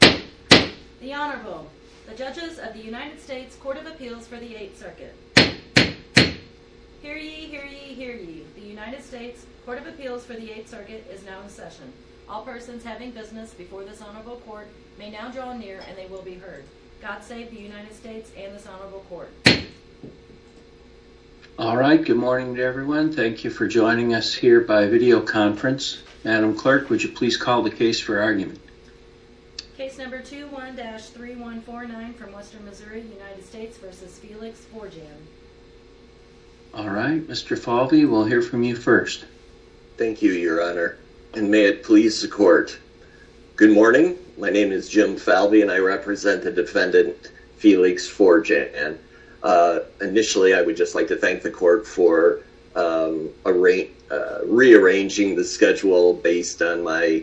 The Honorable, the Judges of the United States Court of Appeals for the 8th Circuit. Hear ye, hear ye, hear ye. The United States Court of Appeals for the 8th Circuit is now in session. All persons having business before this Honorable Court may now draw near and they will be heard. God save the United States and this Honorable Court. Alright, good morning to everyone. Thank you for joining us here by video conference. Madam Clerk, would you please call the case for argument. Case number 21-3149 from Western Missouri, United States v. Felix Forjan. Alright, Mr. Falvey, we'll hear from you first. Thank you, Your Honor, and may it please the Court. Good morning, my name is Jim Falvey and I represent the defendant, Felix Forjan. Initially, I would just like to thank the Court for rearranging the schedule based on my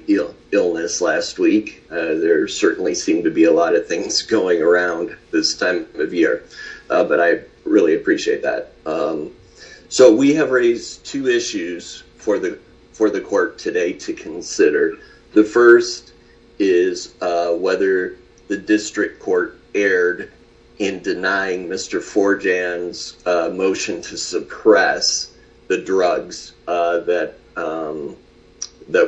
illness last week. There certainly seemed to be a lot of things going around this time of year, but I really appreciate that. So, we have raised two issues for the Court today to consider. The first is whether the District Court erred in denying Mr. Forjan's motion to suppress the drugs that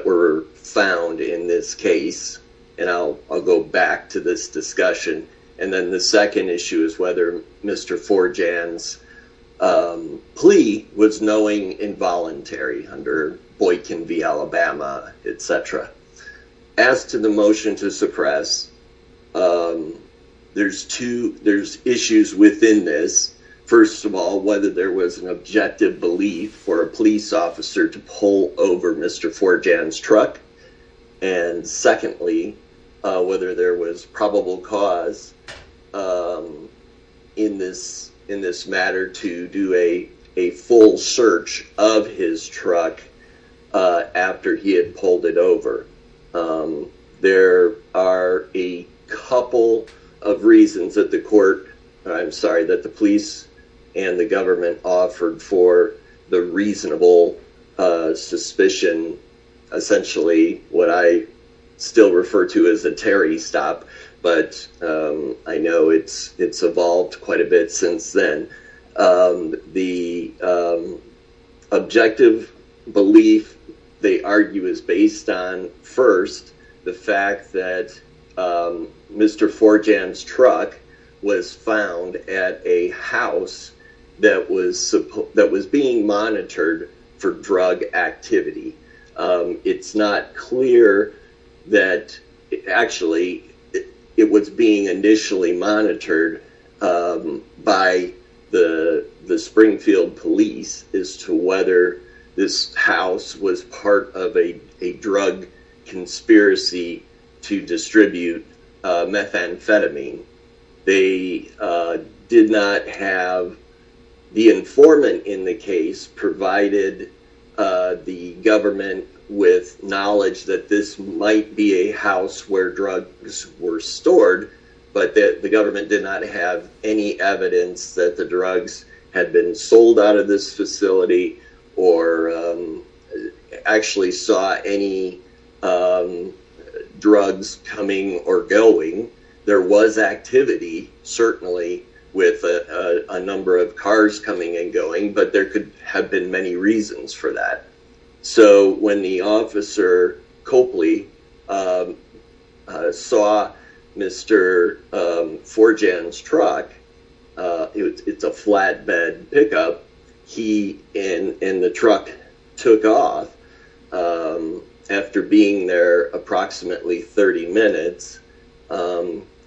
were found in this case. And I'll go back to this discussion. And then the second issue is whether Mr. Forjan's plea was knowing involuntary under Boykin v. Alabama, etc. As to the motion to suppress, there's issues within this. First of all, whether there was an objective belief for a police officer to pull over Mr. Forjan's truck. And secondly, whether there was probable cause in this matter to do a full search of his truck after he had pulled it over. There are a couple of reasons that the Police and the Government offered for the reasonable suspicion. Essentially, what I still refer to as a Terry stop, but I know it's evolved quite a bit since then. The objective belief, they argue, is based on, first, the fact that Mr. Forjan's truck was found at a house that was being monitored for drug activity. It's not clear that, actually, it was being initially monitored by the Springfield Police as to whether this house was part of a drug conspiracy to distribute methamphetamine. The informant in the case provided the Government with knowledge that this might be a house where drugs were stored. But the Government did not have any evidence that the drugs had been sold out of this facility or actually saw any drugs coming or going. There was activity, certainly, with a number of cars coming and going, but there could have been many reasons for that. When the officer, Copley, saw Mr. Forjan's truck, it's a flatbed pickup, and the truck took off after being there approximately 30 minutes,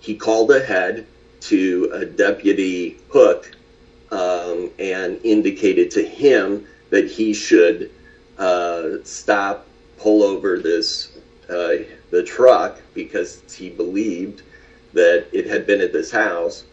he called ahead to a deputy, Hook, and indicated to him that he should stop, pull over the truck because he believed that it had been at this house.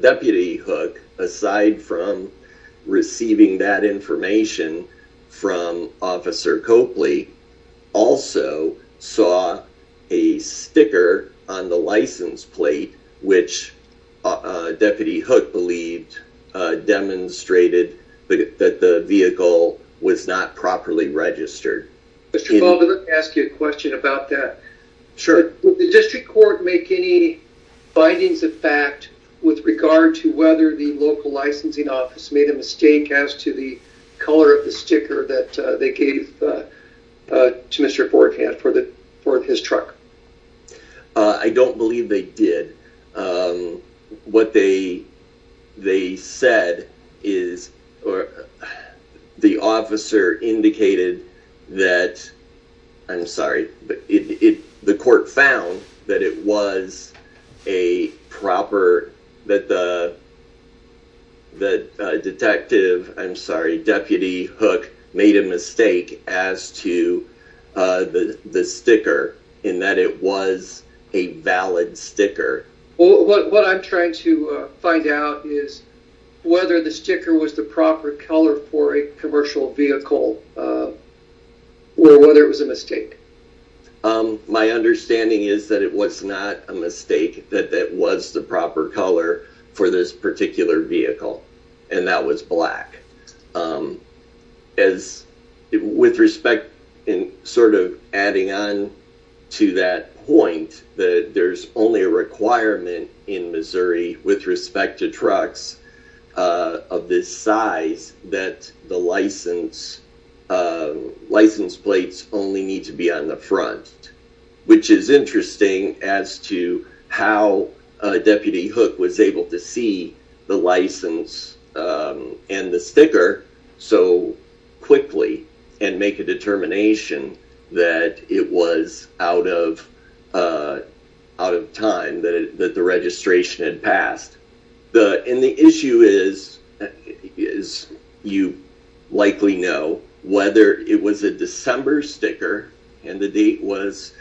Deputy Hook, aside from receiving that information from Officer Copley, also saw a sticker on the license plate which Deputy Hook believed demonstrated that the vehicle was not properly registered. Would the District Court make any findings of fact with regard to whether the local licensing office made a mistake as to the color of the sticker that they gave to Mr. Forjan for his truck? I don't believe they did. What they said is the officer indicated that, I'm sorry, the court found that it was a proper, that the detective, I'm sorry, Deputy Hook made a mistake as to the sticker. In that it was a valid sticker. What I'm trying to find out is whether the sticker was the proper color for a commercial vehicle, or whether it was a mistake. My understanding is that it was not a mistake, that that was the proper color for this particular vehicle, and that was black. With respect, and sort of adding on to that point, that there's only a requirement in Missouri with respect to trucks of this size that the license plates only need to be on the front. Which is interesting as to how Deputy Hook was able to see the license and the sticker so quickly and make a determination that it was out of time, that the registration had passed. And the issue is, you likely know, whether it was a December sticker, and the date was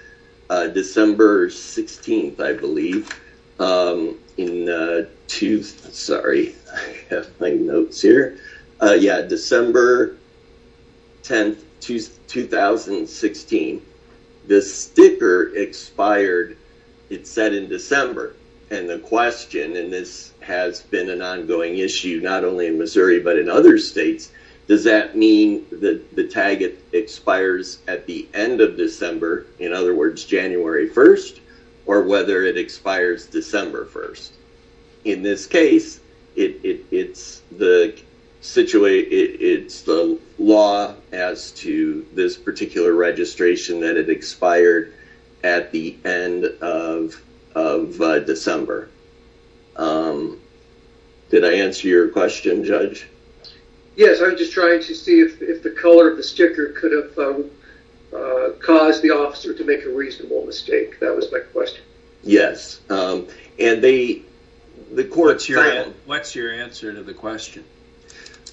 December 16th, I believe, in two, sorry, I have my notes here. Yeah, December 10th, 2016, the sticker expired, it said in December. And the question, and this has been an ongoing issue not only in Missouri but in other states, does that mean that the tag expires at the end of December, in other words January 1st, or whether it expires December 1st? In this case, it's the law as to this particular registration that it expired at the end of December. Did I answer your question, Judge? Yes, I was just trying to see if the color of the sticker could have caused the officer to make a reasonable mistake, that was my question. Yes, and they, the court found... What's your answer to the question?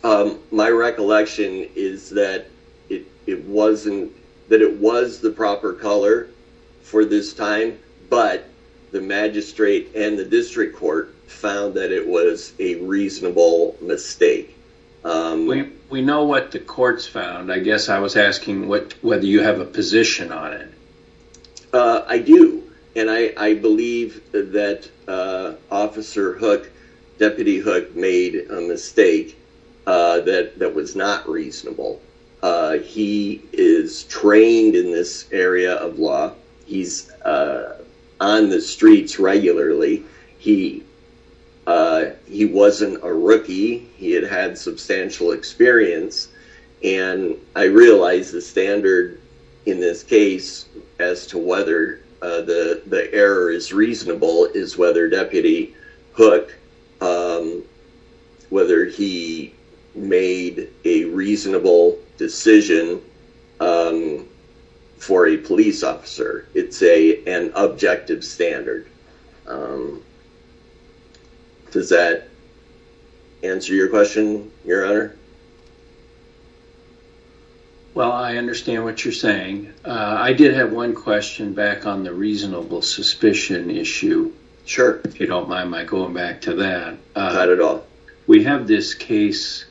My recollection is that it wasn't, that it was the proper color for this time, but the magistrate and the district court found that it was a reasonable mistake. We know what the courts found, I guess I was asking whether you have a position on it. I do, and I believe that Officer Hook, Deputy Hook made a mistake that was not reasonable. He is trained in this area of law, he's on the streets regularly, he wasn't a rookie, he had had substantial experience, and I realize the standard in this case as to whether the error is reasonable is whether Deputy Hook, whether he made a reasonable decision for a police officer. It's an objective standard. Does that answer your question, Your Honor? Well, I understand what you're saying. I did have one question back on the reasonable suspicion issue. Sure. If you don't mind my going back to that. Not at all. We have this case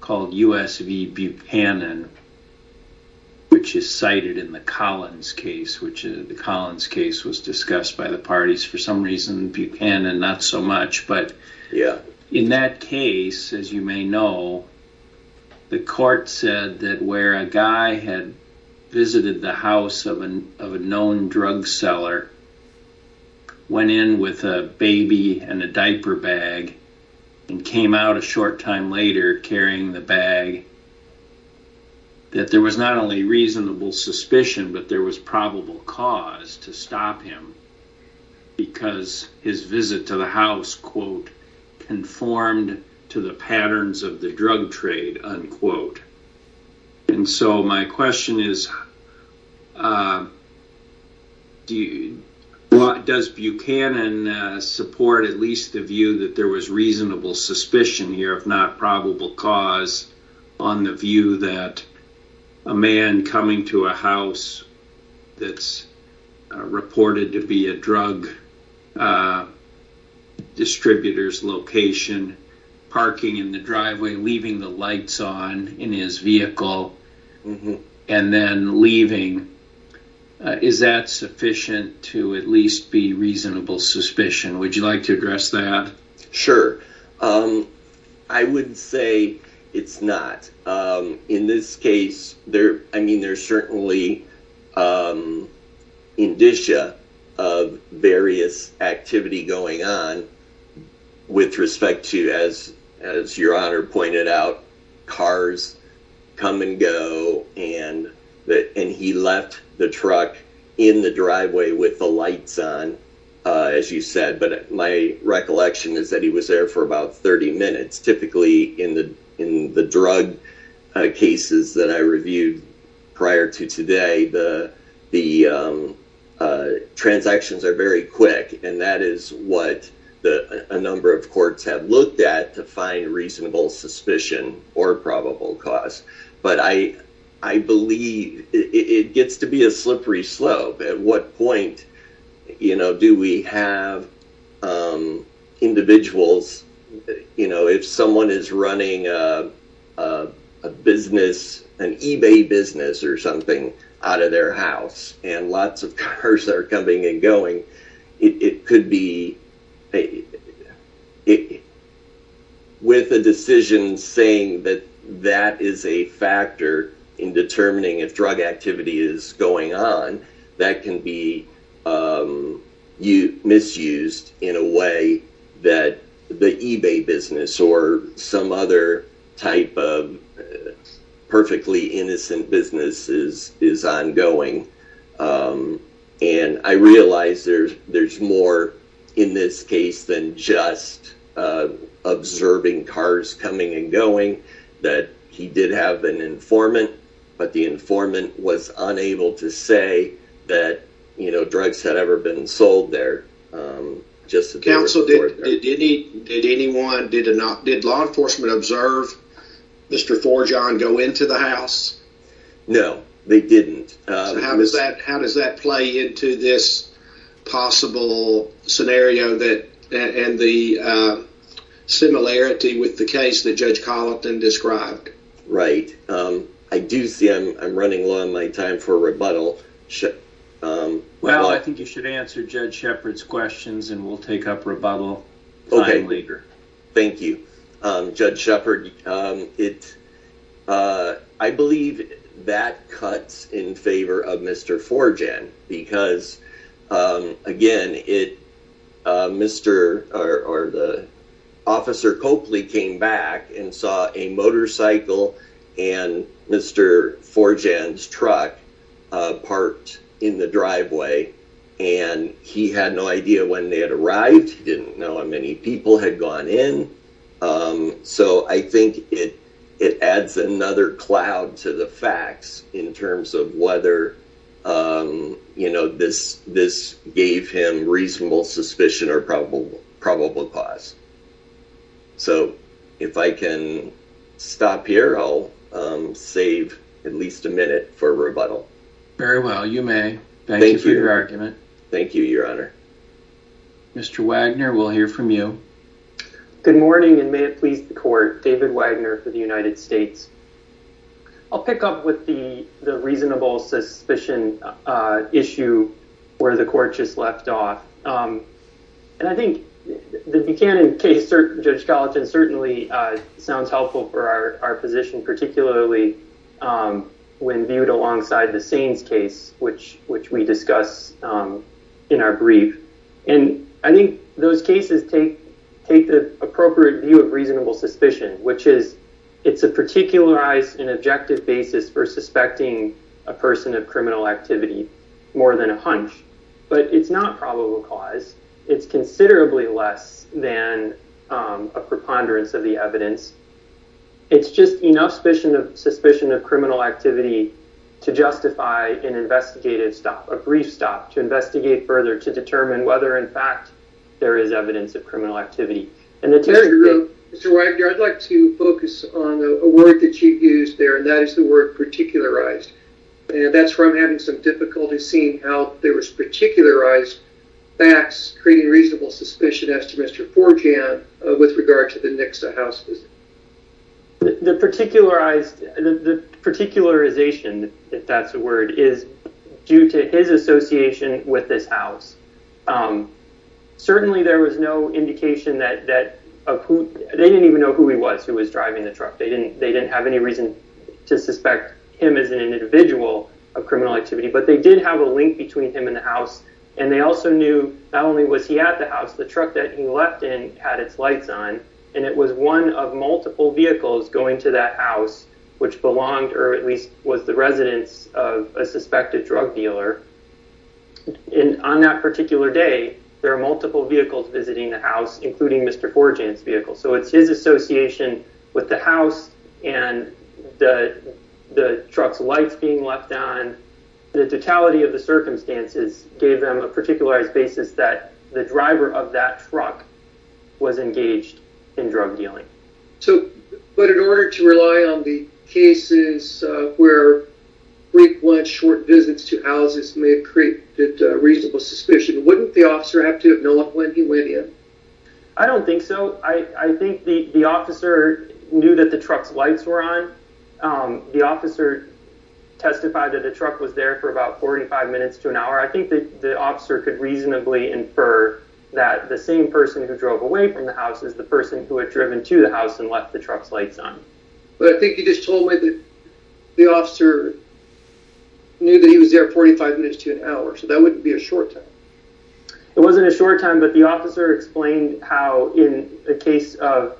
called U.S. v. Buchanan, which is cited in the Collins case, which the Collins case was discussed by the parties for some reason, Buchanan not so much, but in that case, as you may know, the court said that where a guy had visited the house of a known drug seller, went in with a baby and a diaper bag, and came out a short time later carrying the bag, that there was not only reasonable suspicion, but there was probable cause to stop him because his visit to the house, quote, conformed to the patterns of the drug trade, unquote. And so my question is, does Buchanan support at least the view that there was reasonable suspicion here, if not probable cause, on the view that a man coming to a house that's reported to be a drug distributor's location, parking in the driveway, leaving the lights on in his vehicle, and then leaving, is that sufficient to at least be reasonable suspicion? Would you like to address that? Sure. I would say it's not. In this case, I mean, there's certainly indicia of various activity going on with respect to, as your honor pointed out, cars come and go, and he left the truck in the driveway with the lights on, as you said. But my recollection is that he was there for about 30 minutes. Typically, in the drug cases that I reviewed prior to today, the transactions are very quick, and that is what a number of courts have looked at to find reasonable suspicion or probable cause. But I believe it gets to be a slippery slope at what point, you know, do we have individuals, you know, if someone is running a business, an eBay business or something, out of their house, and lots of cars are coming and going, it could be, with a decision saying that that is a factor in determining if drug activity is going on, that can be misused in a way that the eBay business or some other type of perfectly innocent business is ongoing. And I realize there's more in this case than just observing cars coming and going, that he did have an informant, but the informant was unable to say that, you know, drugs had ever been sold there. Counsel, did anyone, did law enforcement observe Mr. Forgeon go into the house? No, they didn't. So how does that play into this possible scenario and the similarity with the case that Judge Colleton described? Right. I do see I'm running low on my time for rebuttal. Well, I think you should answer Judge Shepard's questions and we'll take up rebuttal time later. Thank you. Judge Shepard, I believe that cuts in favor of Mr. Forgeon because, again, Officer Copley came back and saw a motorcycle and Mr. Forgeon's truck parked in the driveway, and he had no idea when they had arrived. He didn't know how many people had gone in. So I think it adds another cloud to the facts in terms of whether, you know, this gave him reasonable suspicion or probable cause. So if I can stop here, I'll save at least a minute for rebuttal. Very well, you may. Thank you for your argument. Thank you, Your Honor. Mr. Wagner, we'll hear from you. Good morning and may it please the court. David Wagner for the United States. I'll pick up with the reasonable suspicion issue where the court just left off. And I think the Buchanan case, Judge Colleton, certainly sounds helpful for our position, particularly when viewed alongside the Saines case, which which we discuss in our brief. And I think those cases take take the appropriate view of reasonable suspicion, which is it's a particularized and objective basis for suspecting a person of criminal activity more than a hunch. But it's not probable cause. It's considerably less than a preponderance of the evidence. It's just enough suspicion of suspicion of criminal activity to justify an investigative stop, a brief stop to investigate further to determine whether, in fact, there is evidence of criminal activity. So I'd like to focus on a word that you've used there, and that is the word particularized. And that's where I'm having some difficulty seeing how there was particularized facts, creating reasonable suspicion as to Mr. Forjan with regard to the Nixa house visit. The particularized the particularization, if that's a word, is due to his association with this house. Certainly, there was no indication that that of who they didn't even know who he was, who was driving the truck. They didn't they didn't have any reason to suspect him as an individual of criminal activity. But they did have a link between him and the house, and they also knew not only was he at the house, the truck that he left in had its lights on, and it was one of multiple vehicles going to that house, which belonged or at least was the residence of a suspected drug dealer. And on that particular day, there are multiple vehicles visiting the house, including Mr. Forjan's vehicle. So it's his association with the house and the truck's lights being left on. The totality of the circumstances gave them a particularized basis that the driver of that truck was engaged in drug dealing. So but in order to rely on the cases where brief lunch, short visits to houses may create reasonable suspicion, wouldn't the officer have to have known when he went in? I don't think so. I think the officer knew that the truck's lights were on. The officer testified that the truck was there for about 45 minutes to an hour. I think the officer could reasonably infer that the same person who drove away from the house is the person who had driven to the house and left the truck's lights on. But I think he just told me that the officer knew that he was there 45 minutes to an hour. So that wouldn't be a short time. It wasn't a short time, but the officer explained how in the case of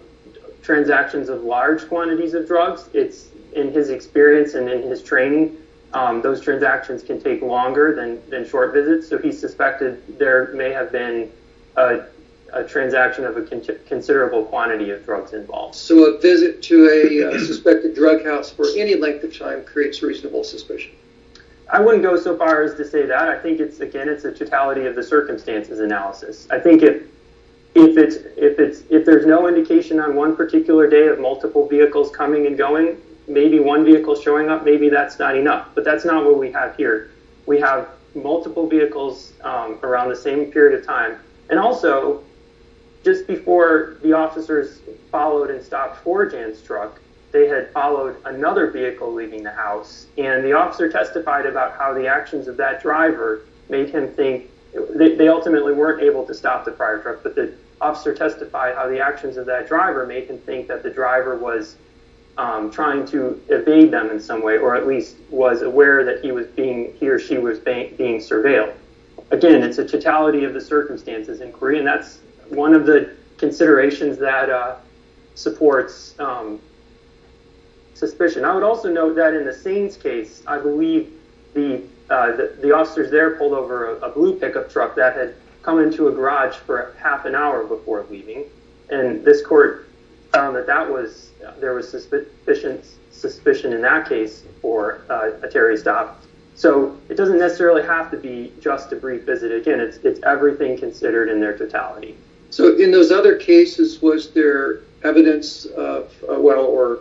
transactions of large quantities of drugs, it's in his experience and in his training, those transactions can take longer than short visits. So he suspected there may have been a transaction of a considerable quantity of drugs involved. So a visit to a suspected drug house for any length of time creates reasonable suspicion. I wouldn't go so far as to say that. I think, again, it's a totality of the circumstances analysis. I think if there's no indication on one particular day of multiple vehicles coming and going, maybe one vehicle showing up, maybe that's not enough. But that's not what we have here. We have multiple vehicles around the same period of time. And also, just before the officers followed and stopped 4Jan's truck, they had followed another vehicle leaving the house. And the officer testified about how the actions of that driver made him think they ultimately weren't able to stop the prior truck, but the officer testified how the actions of that driver made him think that the driver was trying to evade them in some way, or at least was aware that he or she was being surveilled. Again, it's a totality of the circumstances inquiry, and that's one of the considerations that supports suspicion. I would also note that in the Sains case, I believe the officers there pulled over a blue pickup truck that had come into a garage for half an hour before leaving. And this court found that there was sufficient suspicion in that case for a Terry stop. So it doesn't necessarily have to be just a brief visit. Again, it's everything considered in their totality. So in those other cases, was there evidence or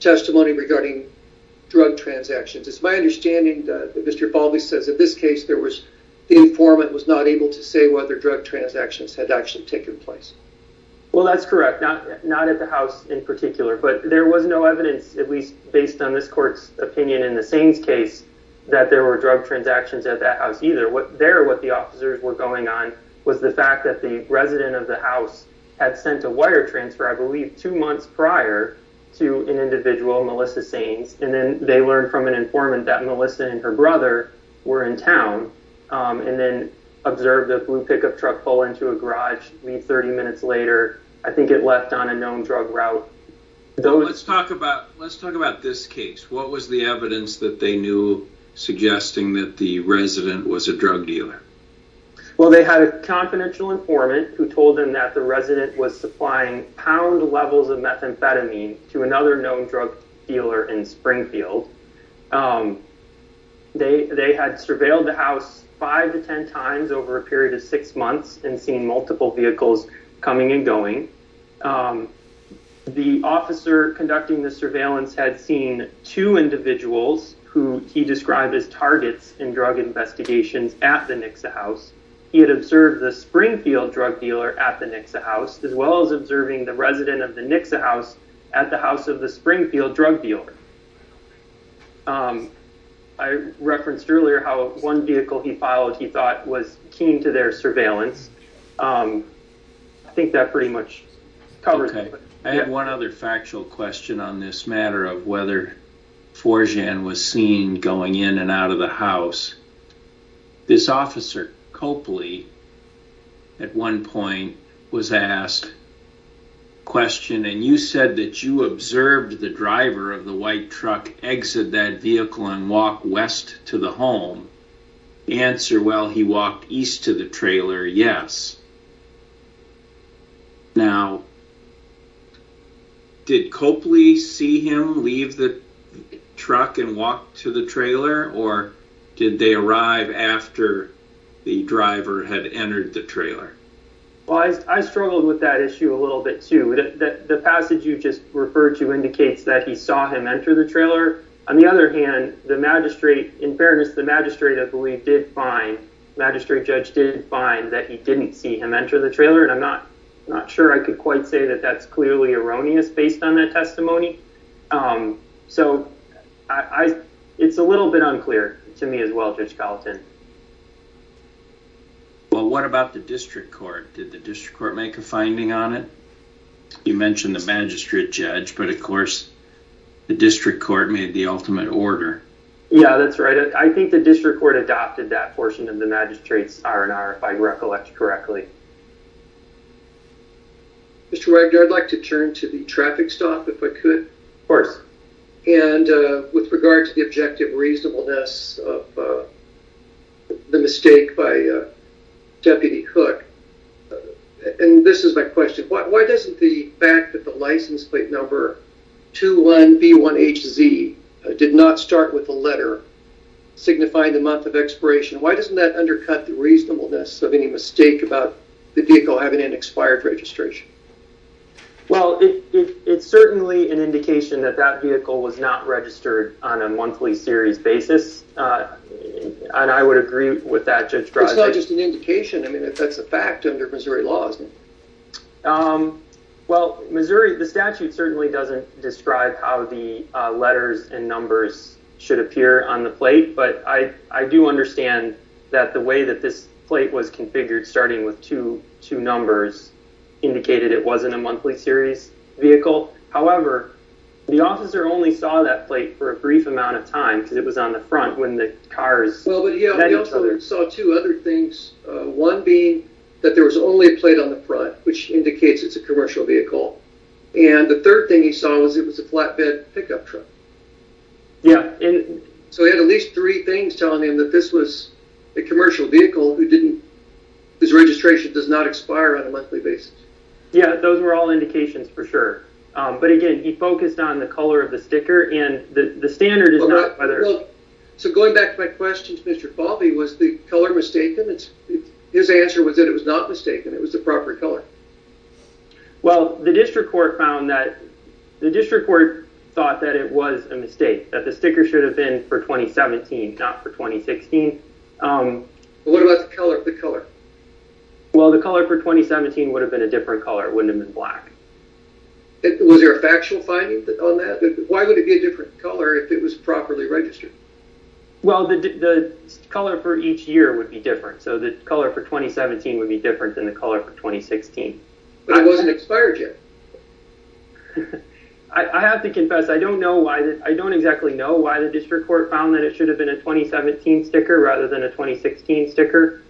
testimony regarding drug transactions? It's my understanding that Mr. Baldy says in this case, the informant was not able to say whether drug transactions had actually taken place. Well, that's correct. Not at the house in particular. But there was no evidence, at least based on this court's opinion in the Sains case, that there were drug transactions at that house either. There, what the officers were going on was the fact that the resident of the house had sent a wire transfer, I believe, two months prior to an individual, Melissa Sains. And then they learned from an informant that Melissa and her brother were in town and then observed a blue pickup truck pull into a garage, leave 30 minutes later. I think it left on a known drug route. Let's talk about this case. What was the evidence that they knew suggesting that the resident was a drug dealer? Well, they had a confidential informant who told them that the resident was supplying pound levels of methamphetamine to another known drug dealer in Springfield. They had surveilled the house five to ten times over a period of six months and seen multiple vehicles coming and going. The officer conducting the surveillance had seen two individuals who he described as targets in drug investigations at the Nixa house. He had observed the Springfield drug dealer at the Nixa house, as well as observing the resident of the Nixa house at the house of the Springfield drug dealer. I referenced earlier how one vehicle he followed, he thought, was keen to their surveillance. I think that pretty much covers it. I have one other factual question on this matter of whether Forjan was seen going in and out of the house. This officer, Copley, at one point was asked a question, and you said that you observed the driver of the white truck exit that vehicle and walk west to the home. The answer, well, he walked east to the trailer, yes. Now, did Copley see him leave the truck and walk to the trailer, or did they arrive after the driver had entered the trailer? Well, I struggled with that issue a little bit, too. The passage you just referred to indicates that he saw him enter the trailer. On the other hand, in fairness, the magistrate, I believe, did find that he didn't see him enter the trailer, and I'm not sure I could quite say that that's clearly erroneous based on that testimony. So it's a little bit unclear to me as well, Judge Gallatin. Well, what about the district court? Did the district court make a finding on it? You mentioned the magistrate, Judge, but, of course, the district court made the ultimate order. Yeah, that's right. I think the district court adopted that portion of the magistrate's R&R, if I recollect correctly. Mr. Wagner, I'd like to turn to the traffic stop, if I could. Of course. And with regard to the objective reasonableness of the mistake by Deputy Cook, and this is my question, why doesn't the fact that the license plate number 21B1HZ did not start with the letter signifying the month of expiration, why doesn't that undercut the reasonableness of any mistake about the vehicle having an expired registration? Well, it's certainly an indication that that vehicle was not registered on a monthly series basis, and I would agree with that, Judge Draghi. It's not just an indication. I mean, that's a fact under Missouri law, isn't it? Well, Missouri, the statute certainly doesn't describe how the letters and numbers should appear on the plate, but I do understand that the way that this plate was configured, starting with two numbers, indicated it wasn't a monthly series vehicle. However, the officer only saw that plate for a brief amount of time, because it was on the front when the cars met each other. Well, but yeah, the officer saw two other things, one being that there was only a plate on the front, which indicates it's a commercial vehicle, and the third thing he saw was it was a flatbed pickup truck. Yeah. So he had at least three things telling him that this was a commercial vehicle whose registration does not expire on a monthly basis. Yeah, those were all indications for sure. But again, he focused on the color of the sticker, and the standard is not whether... Well, so going back to my question to Mr. Falvey, was the color mistaken? His answer was that it was not mistaken, it was the proper color. Well, the district court thought that it was a mistake, that the sticker should have been for 2017, not for 2016. What about the color? Well, the color for 2017 would have been a different color, it wouldn't have been black. Was there a factual finding on that? Why would it be a different color if it was properly registered? Well, the color for each year would be different, so the color for 2017 would be different than the color for 2016. But it wasn't expired yet. I have to confess, I don't exactly know why the district court found that it should have been a 2017 sticker rather than a 2016 sticker.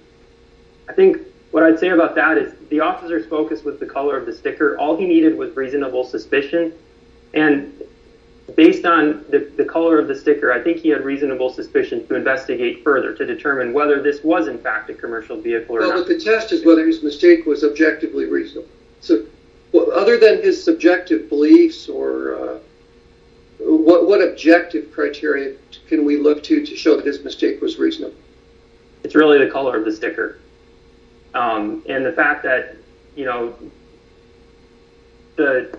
I think what I'd say about that is the officer's focus was the color of the sticker, all he needed was reasonable suspicion, and based on the color of the sticker, I think he had reasonable suspicion to investigate further, to determine whether this was in fact a commercial vehicle or not. But the test is whether his mistake was objectively reasonable. So, other than his subjective beliefs, what objective criteria can we look to to show that his mistake was reasonable? It's really the color of the sticker. And the fact that, you know, the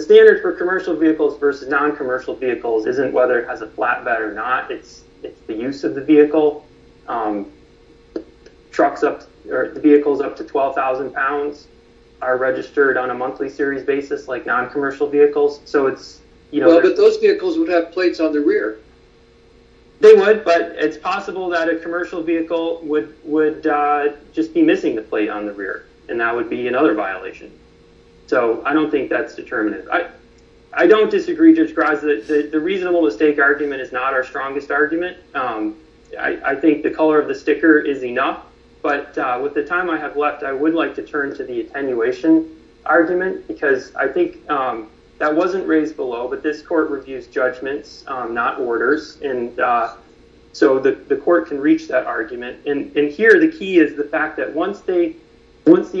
standard for commercial vehicles versus non-commercial vehicles isn't whether it has a flatbed or not, it's the use of the vehicle. The vehicles up to 12,000 pounds are registered on a monthly series basis like non-commercial vehicles. But those vehicles would have plates on the rear. They would, but it's possible that a commercial vehicle would just be missing the plate on the rear, and that would be another violation. So, I don't think that's determinative. I don't disagree, Judge Graza, that the reasonable mistake argument is not our strongest argument. I think the color of the sticker is enough, but with the time I have left, I would like to turn to the attenuation argument, because I think that wasn't raised below, but this court reviews judgments, not orders, and so the court can reach that argument. And here, the key is the fact that once the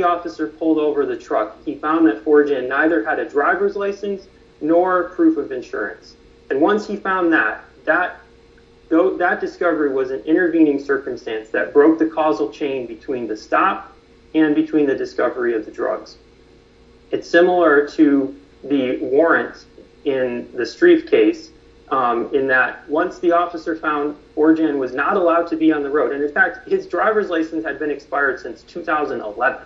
officer pulled over the truck, he found that 4Gen neither had a driver's license nor proof of insurance. And once he found that, that discovery was an intervening circumstance that broke the causal chain between the stop and between the discovery of the drugs. It's similar to the warrant in the Strieff case, in that once the officer found 4Gen was not allowed to be on the road, and in fact, his driver's license had been expired since 2011.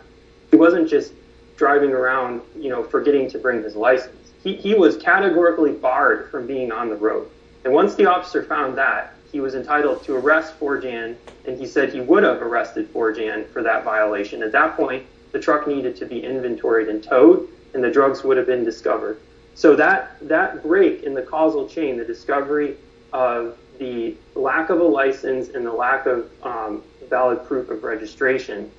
He wasn't just driving around, you know, forgetting to bring his license. He was categorically barred from being on the road. And once the officer found that, he was entitled to arrest 4Gen, and he said he would have arrested 4Gen for that violation. At that point, the truck needed to be inventoried and towed, and the drugs would have been discovered. So that break in the causal chain, the discovery of the lack of a license and the lack of valid proof of registration,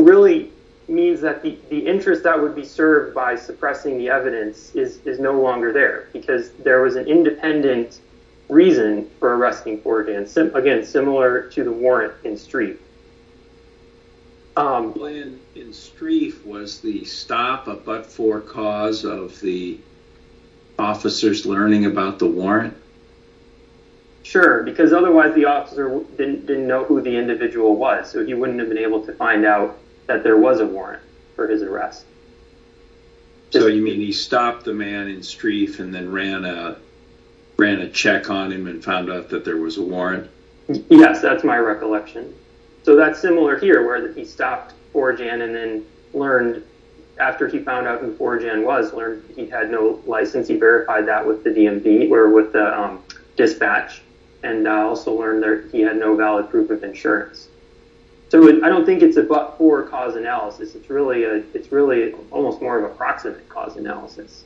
really means that the interest that would be served by suppressing the evidence is no longer there, because there was an independent reason for arresting 4Gen, again, similar to the warrant in Strieff. The plan in Strieff was the stop, a but-for cause of the officers learning about the warrant? Sure, because otherwise the officer didn't know who the individual was, so he wouldn't have been able to find out that there was a warrant for his arrest. So you mean he stopped the man in Strieff and then ran a check on him and found out that there was a warrant? Yes, that's my recollection. So that's similar here, where he stopped 4Gen and then learned, after he found out who 4Gen was, learned that he had no license, he verified that with the dispatch, and also learned that he had no valid proof of insurance. So I don't think it's a but-for cause analysis, it's really almost more of a proximate cause analysis.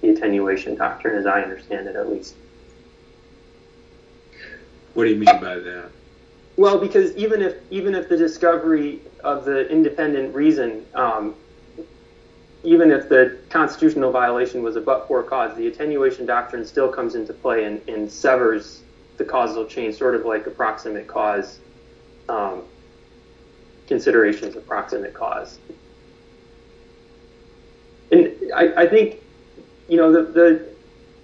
The attenuation doctrine, as I understand it, at least. What do you mean by that? Well, because even if the discovery of the independent reason, even if the constitutional violation was a but-for cause, the attenuation doctrine still comes into play and severs the causal chain, sort of like approximate cause, considerations of proximate cause. And I think, you know,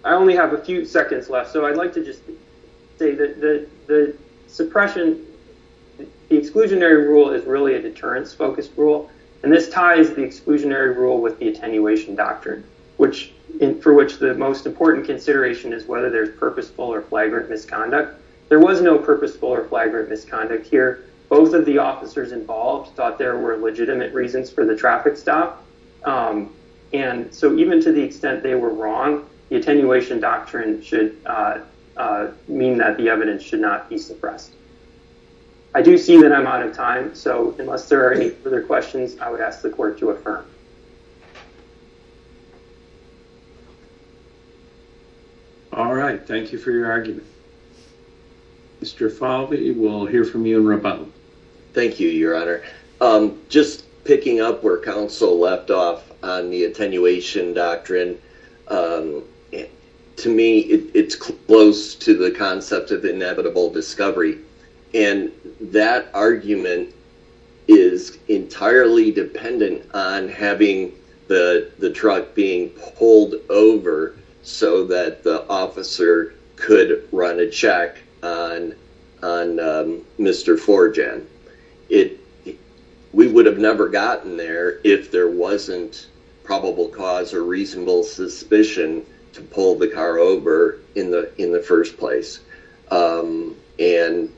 I only have a few seconds left, so I'd like to just say that the suppression, the exclusionary rule is really a deterrence-focused rule, and this ties the exclusionary rule with the attenuation doctrine, for which the most important consideration is whether there's purposeful or flagrant misconduct. There was no purposeful or flagrant misconduct here. Both of the officers involved thought there were legitimate reasons for the traffic stop, and so even to the extent they were wrong, the attenuation doctrine should mean that the evidence should not be suppressed. I do see that I'm out of time, so unless there are any further questions, I would ask the court to affirm. All right, thank you for your argument. Mr. Falvey, we'll hear from you in a moment. Thank you, Your Honor. Just picking up where counsel left off on the attenuation doctrine, to me, it's close to the concept of inevitable discovery, and that argument is entirely dependent on having the truck being pulled over so that the officer could run a check on Mr. Forjan. We would have never gotten there if there wasn't probable cause or reasonable suspicion to pull the car over in the first place, and...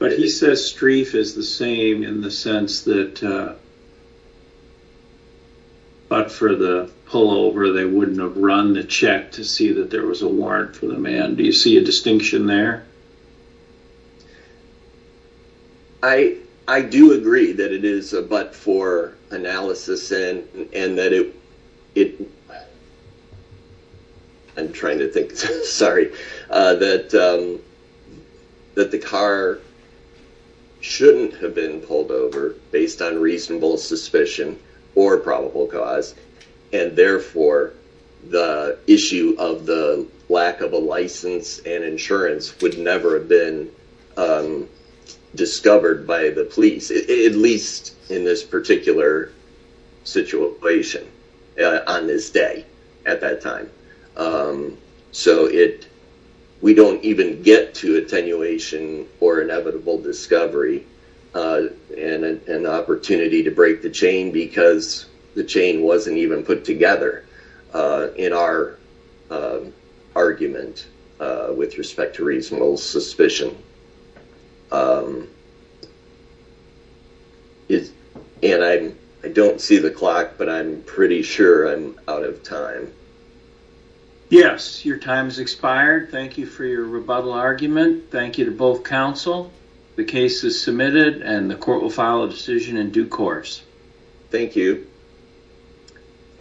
But he says streaf is the same in the sense that but for the pullover, they wouldn't have run the check to see that there was a warrant for the man. Do you see a distinction there? I do agree that it is a but for analysis, and that it... I'm trying to think. Sorry. That the car shouldn't have been pulled over based on reasonable suspicion or probable cause, and therefore, the issue of the lack of a license and insurance would never have been discovered by the police, at least in this particular situation on this day at that time. So it... We don't even get to attenuation or inevitable discovery and an opportunity to break the chain because the chain wasn't even put together in our argument with respect to reasonable suspicion. And I don't see the clock, but I'm pretty sure I'm out of time. Yes, your time has expired. Thank you for your rebuttal argument. Thank you to both counsel. The case is submitted and the court will file a decision in due course. Thank you.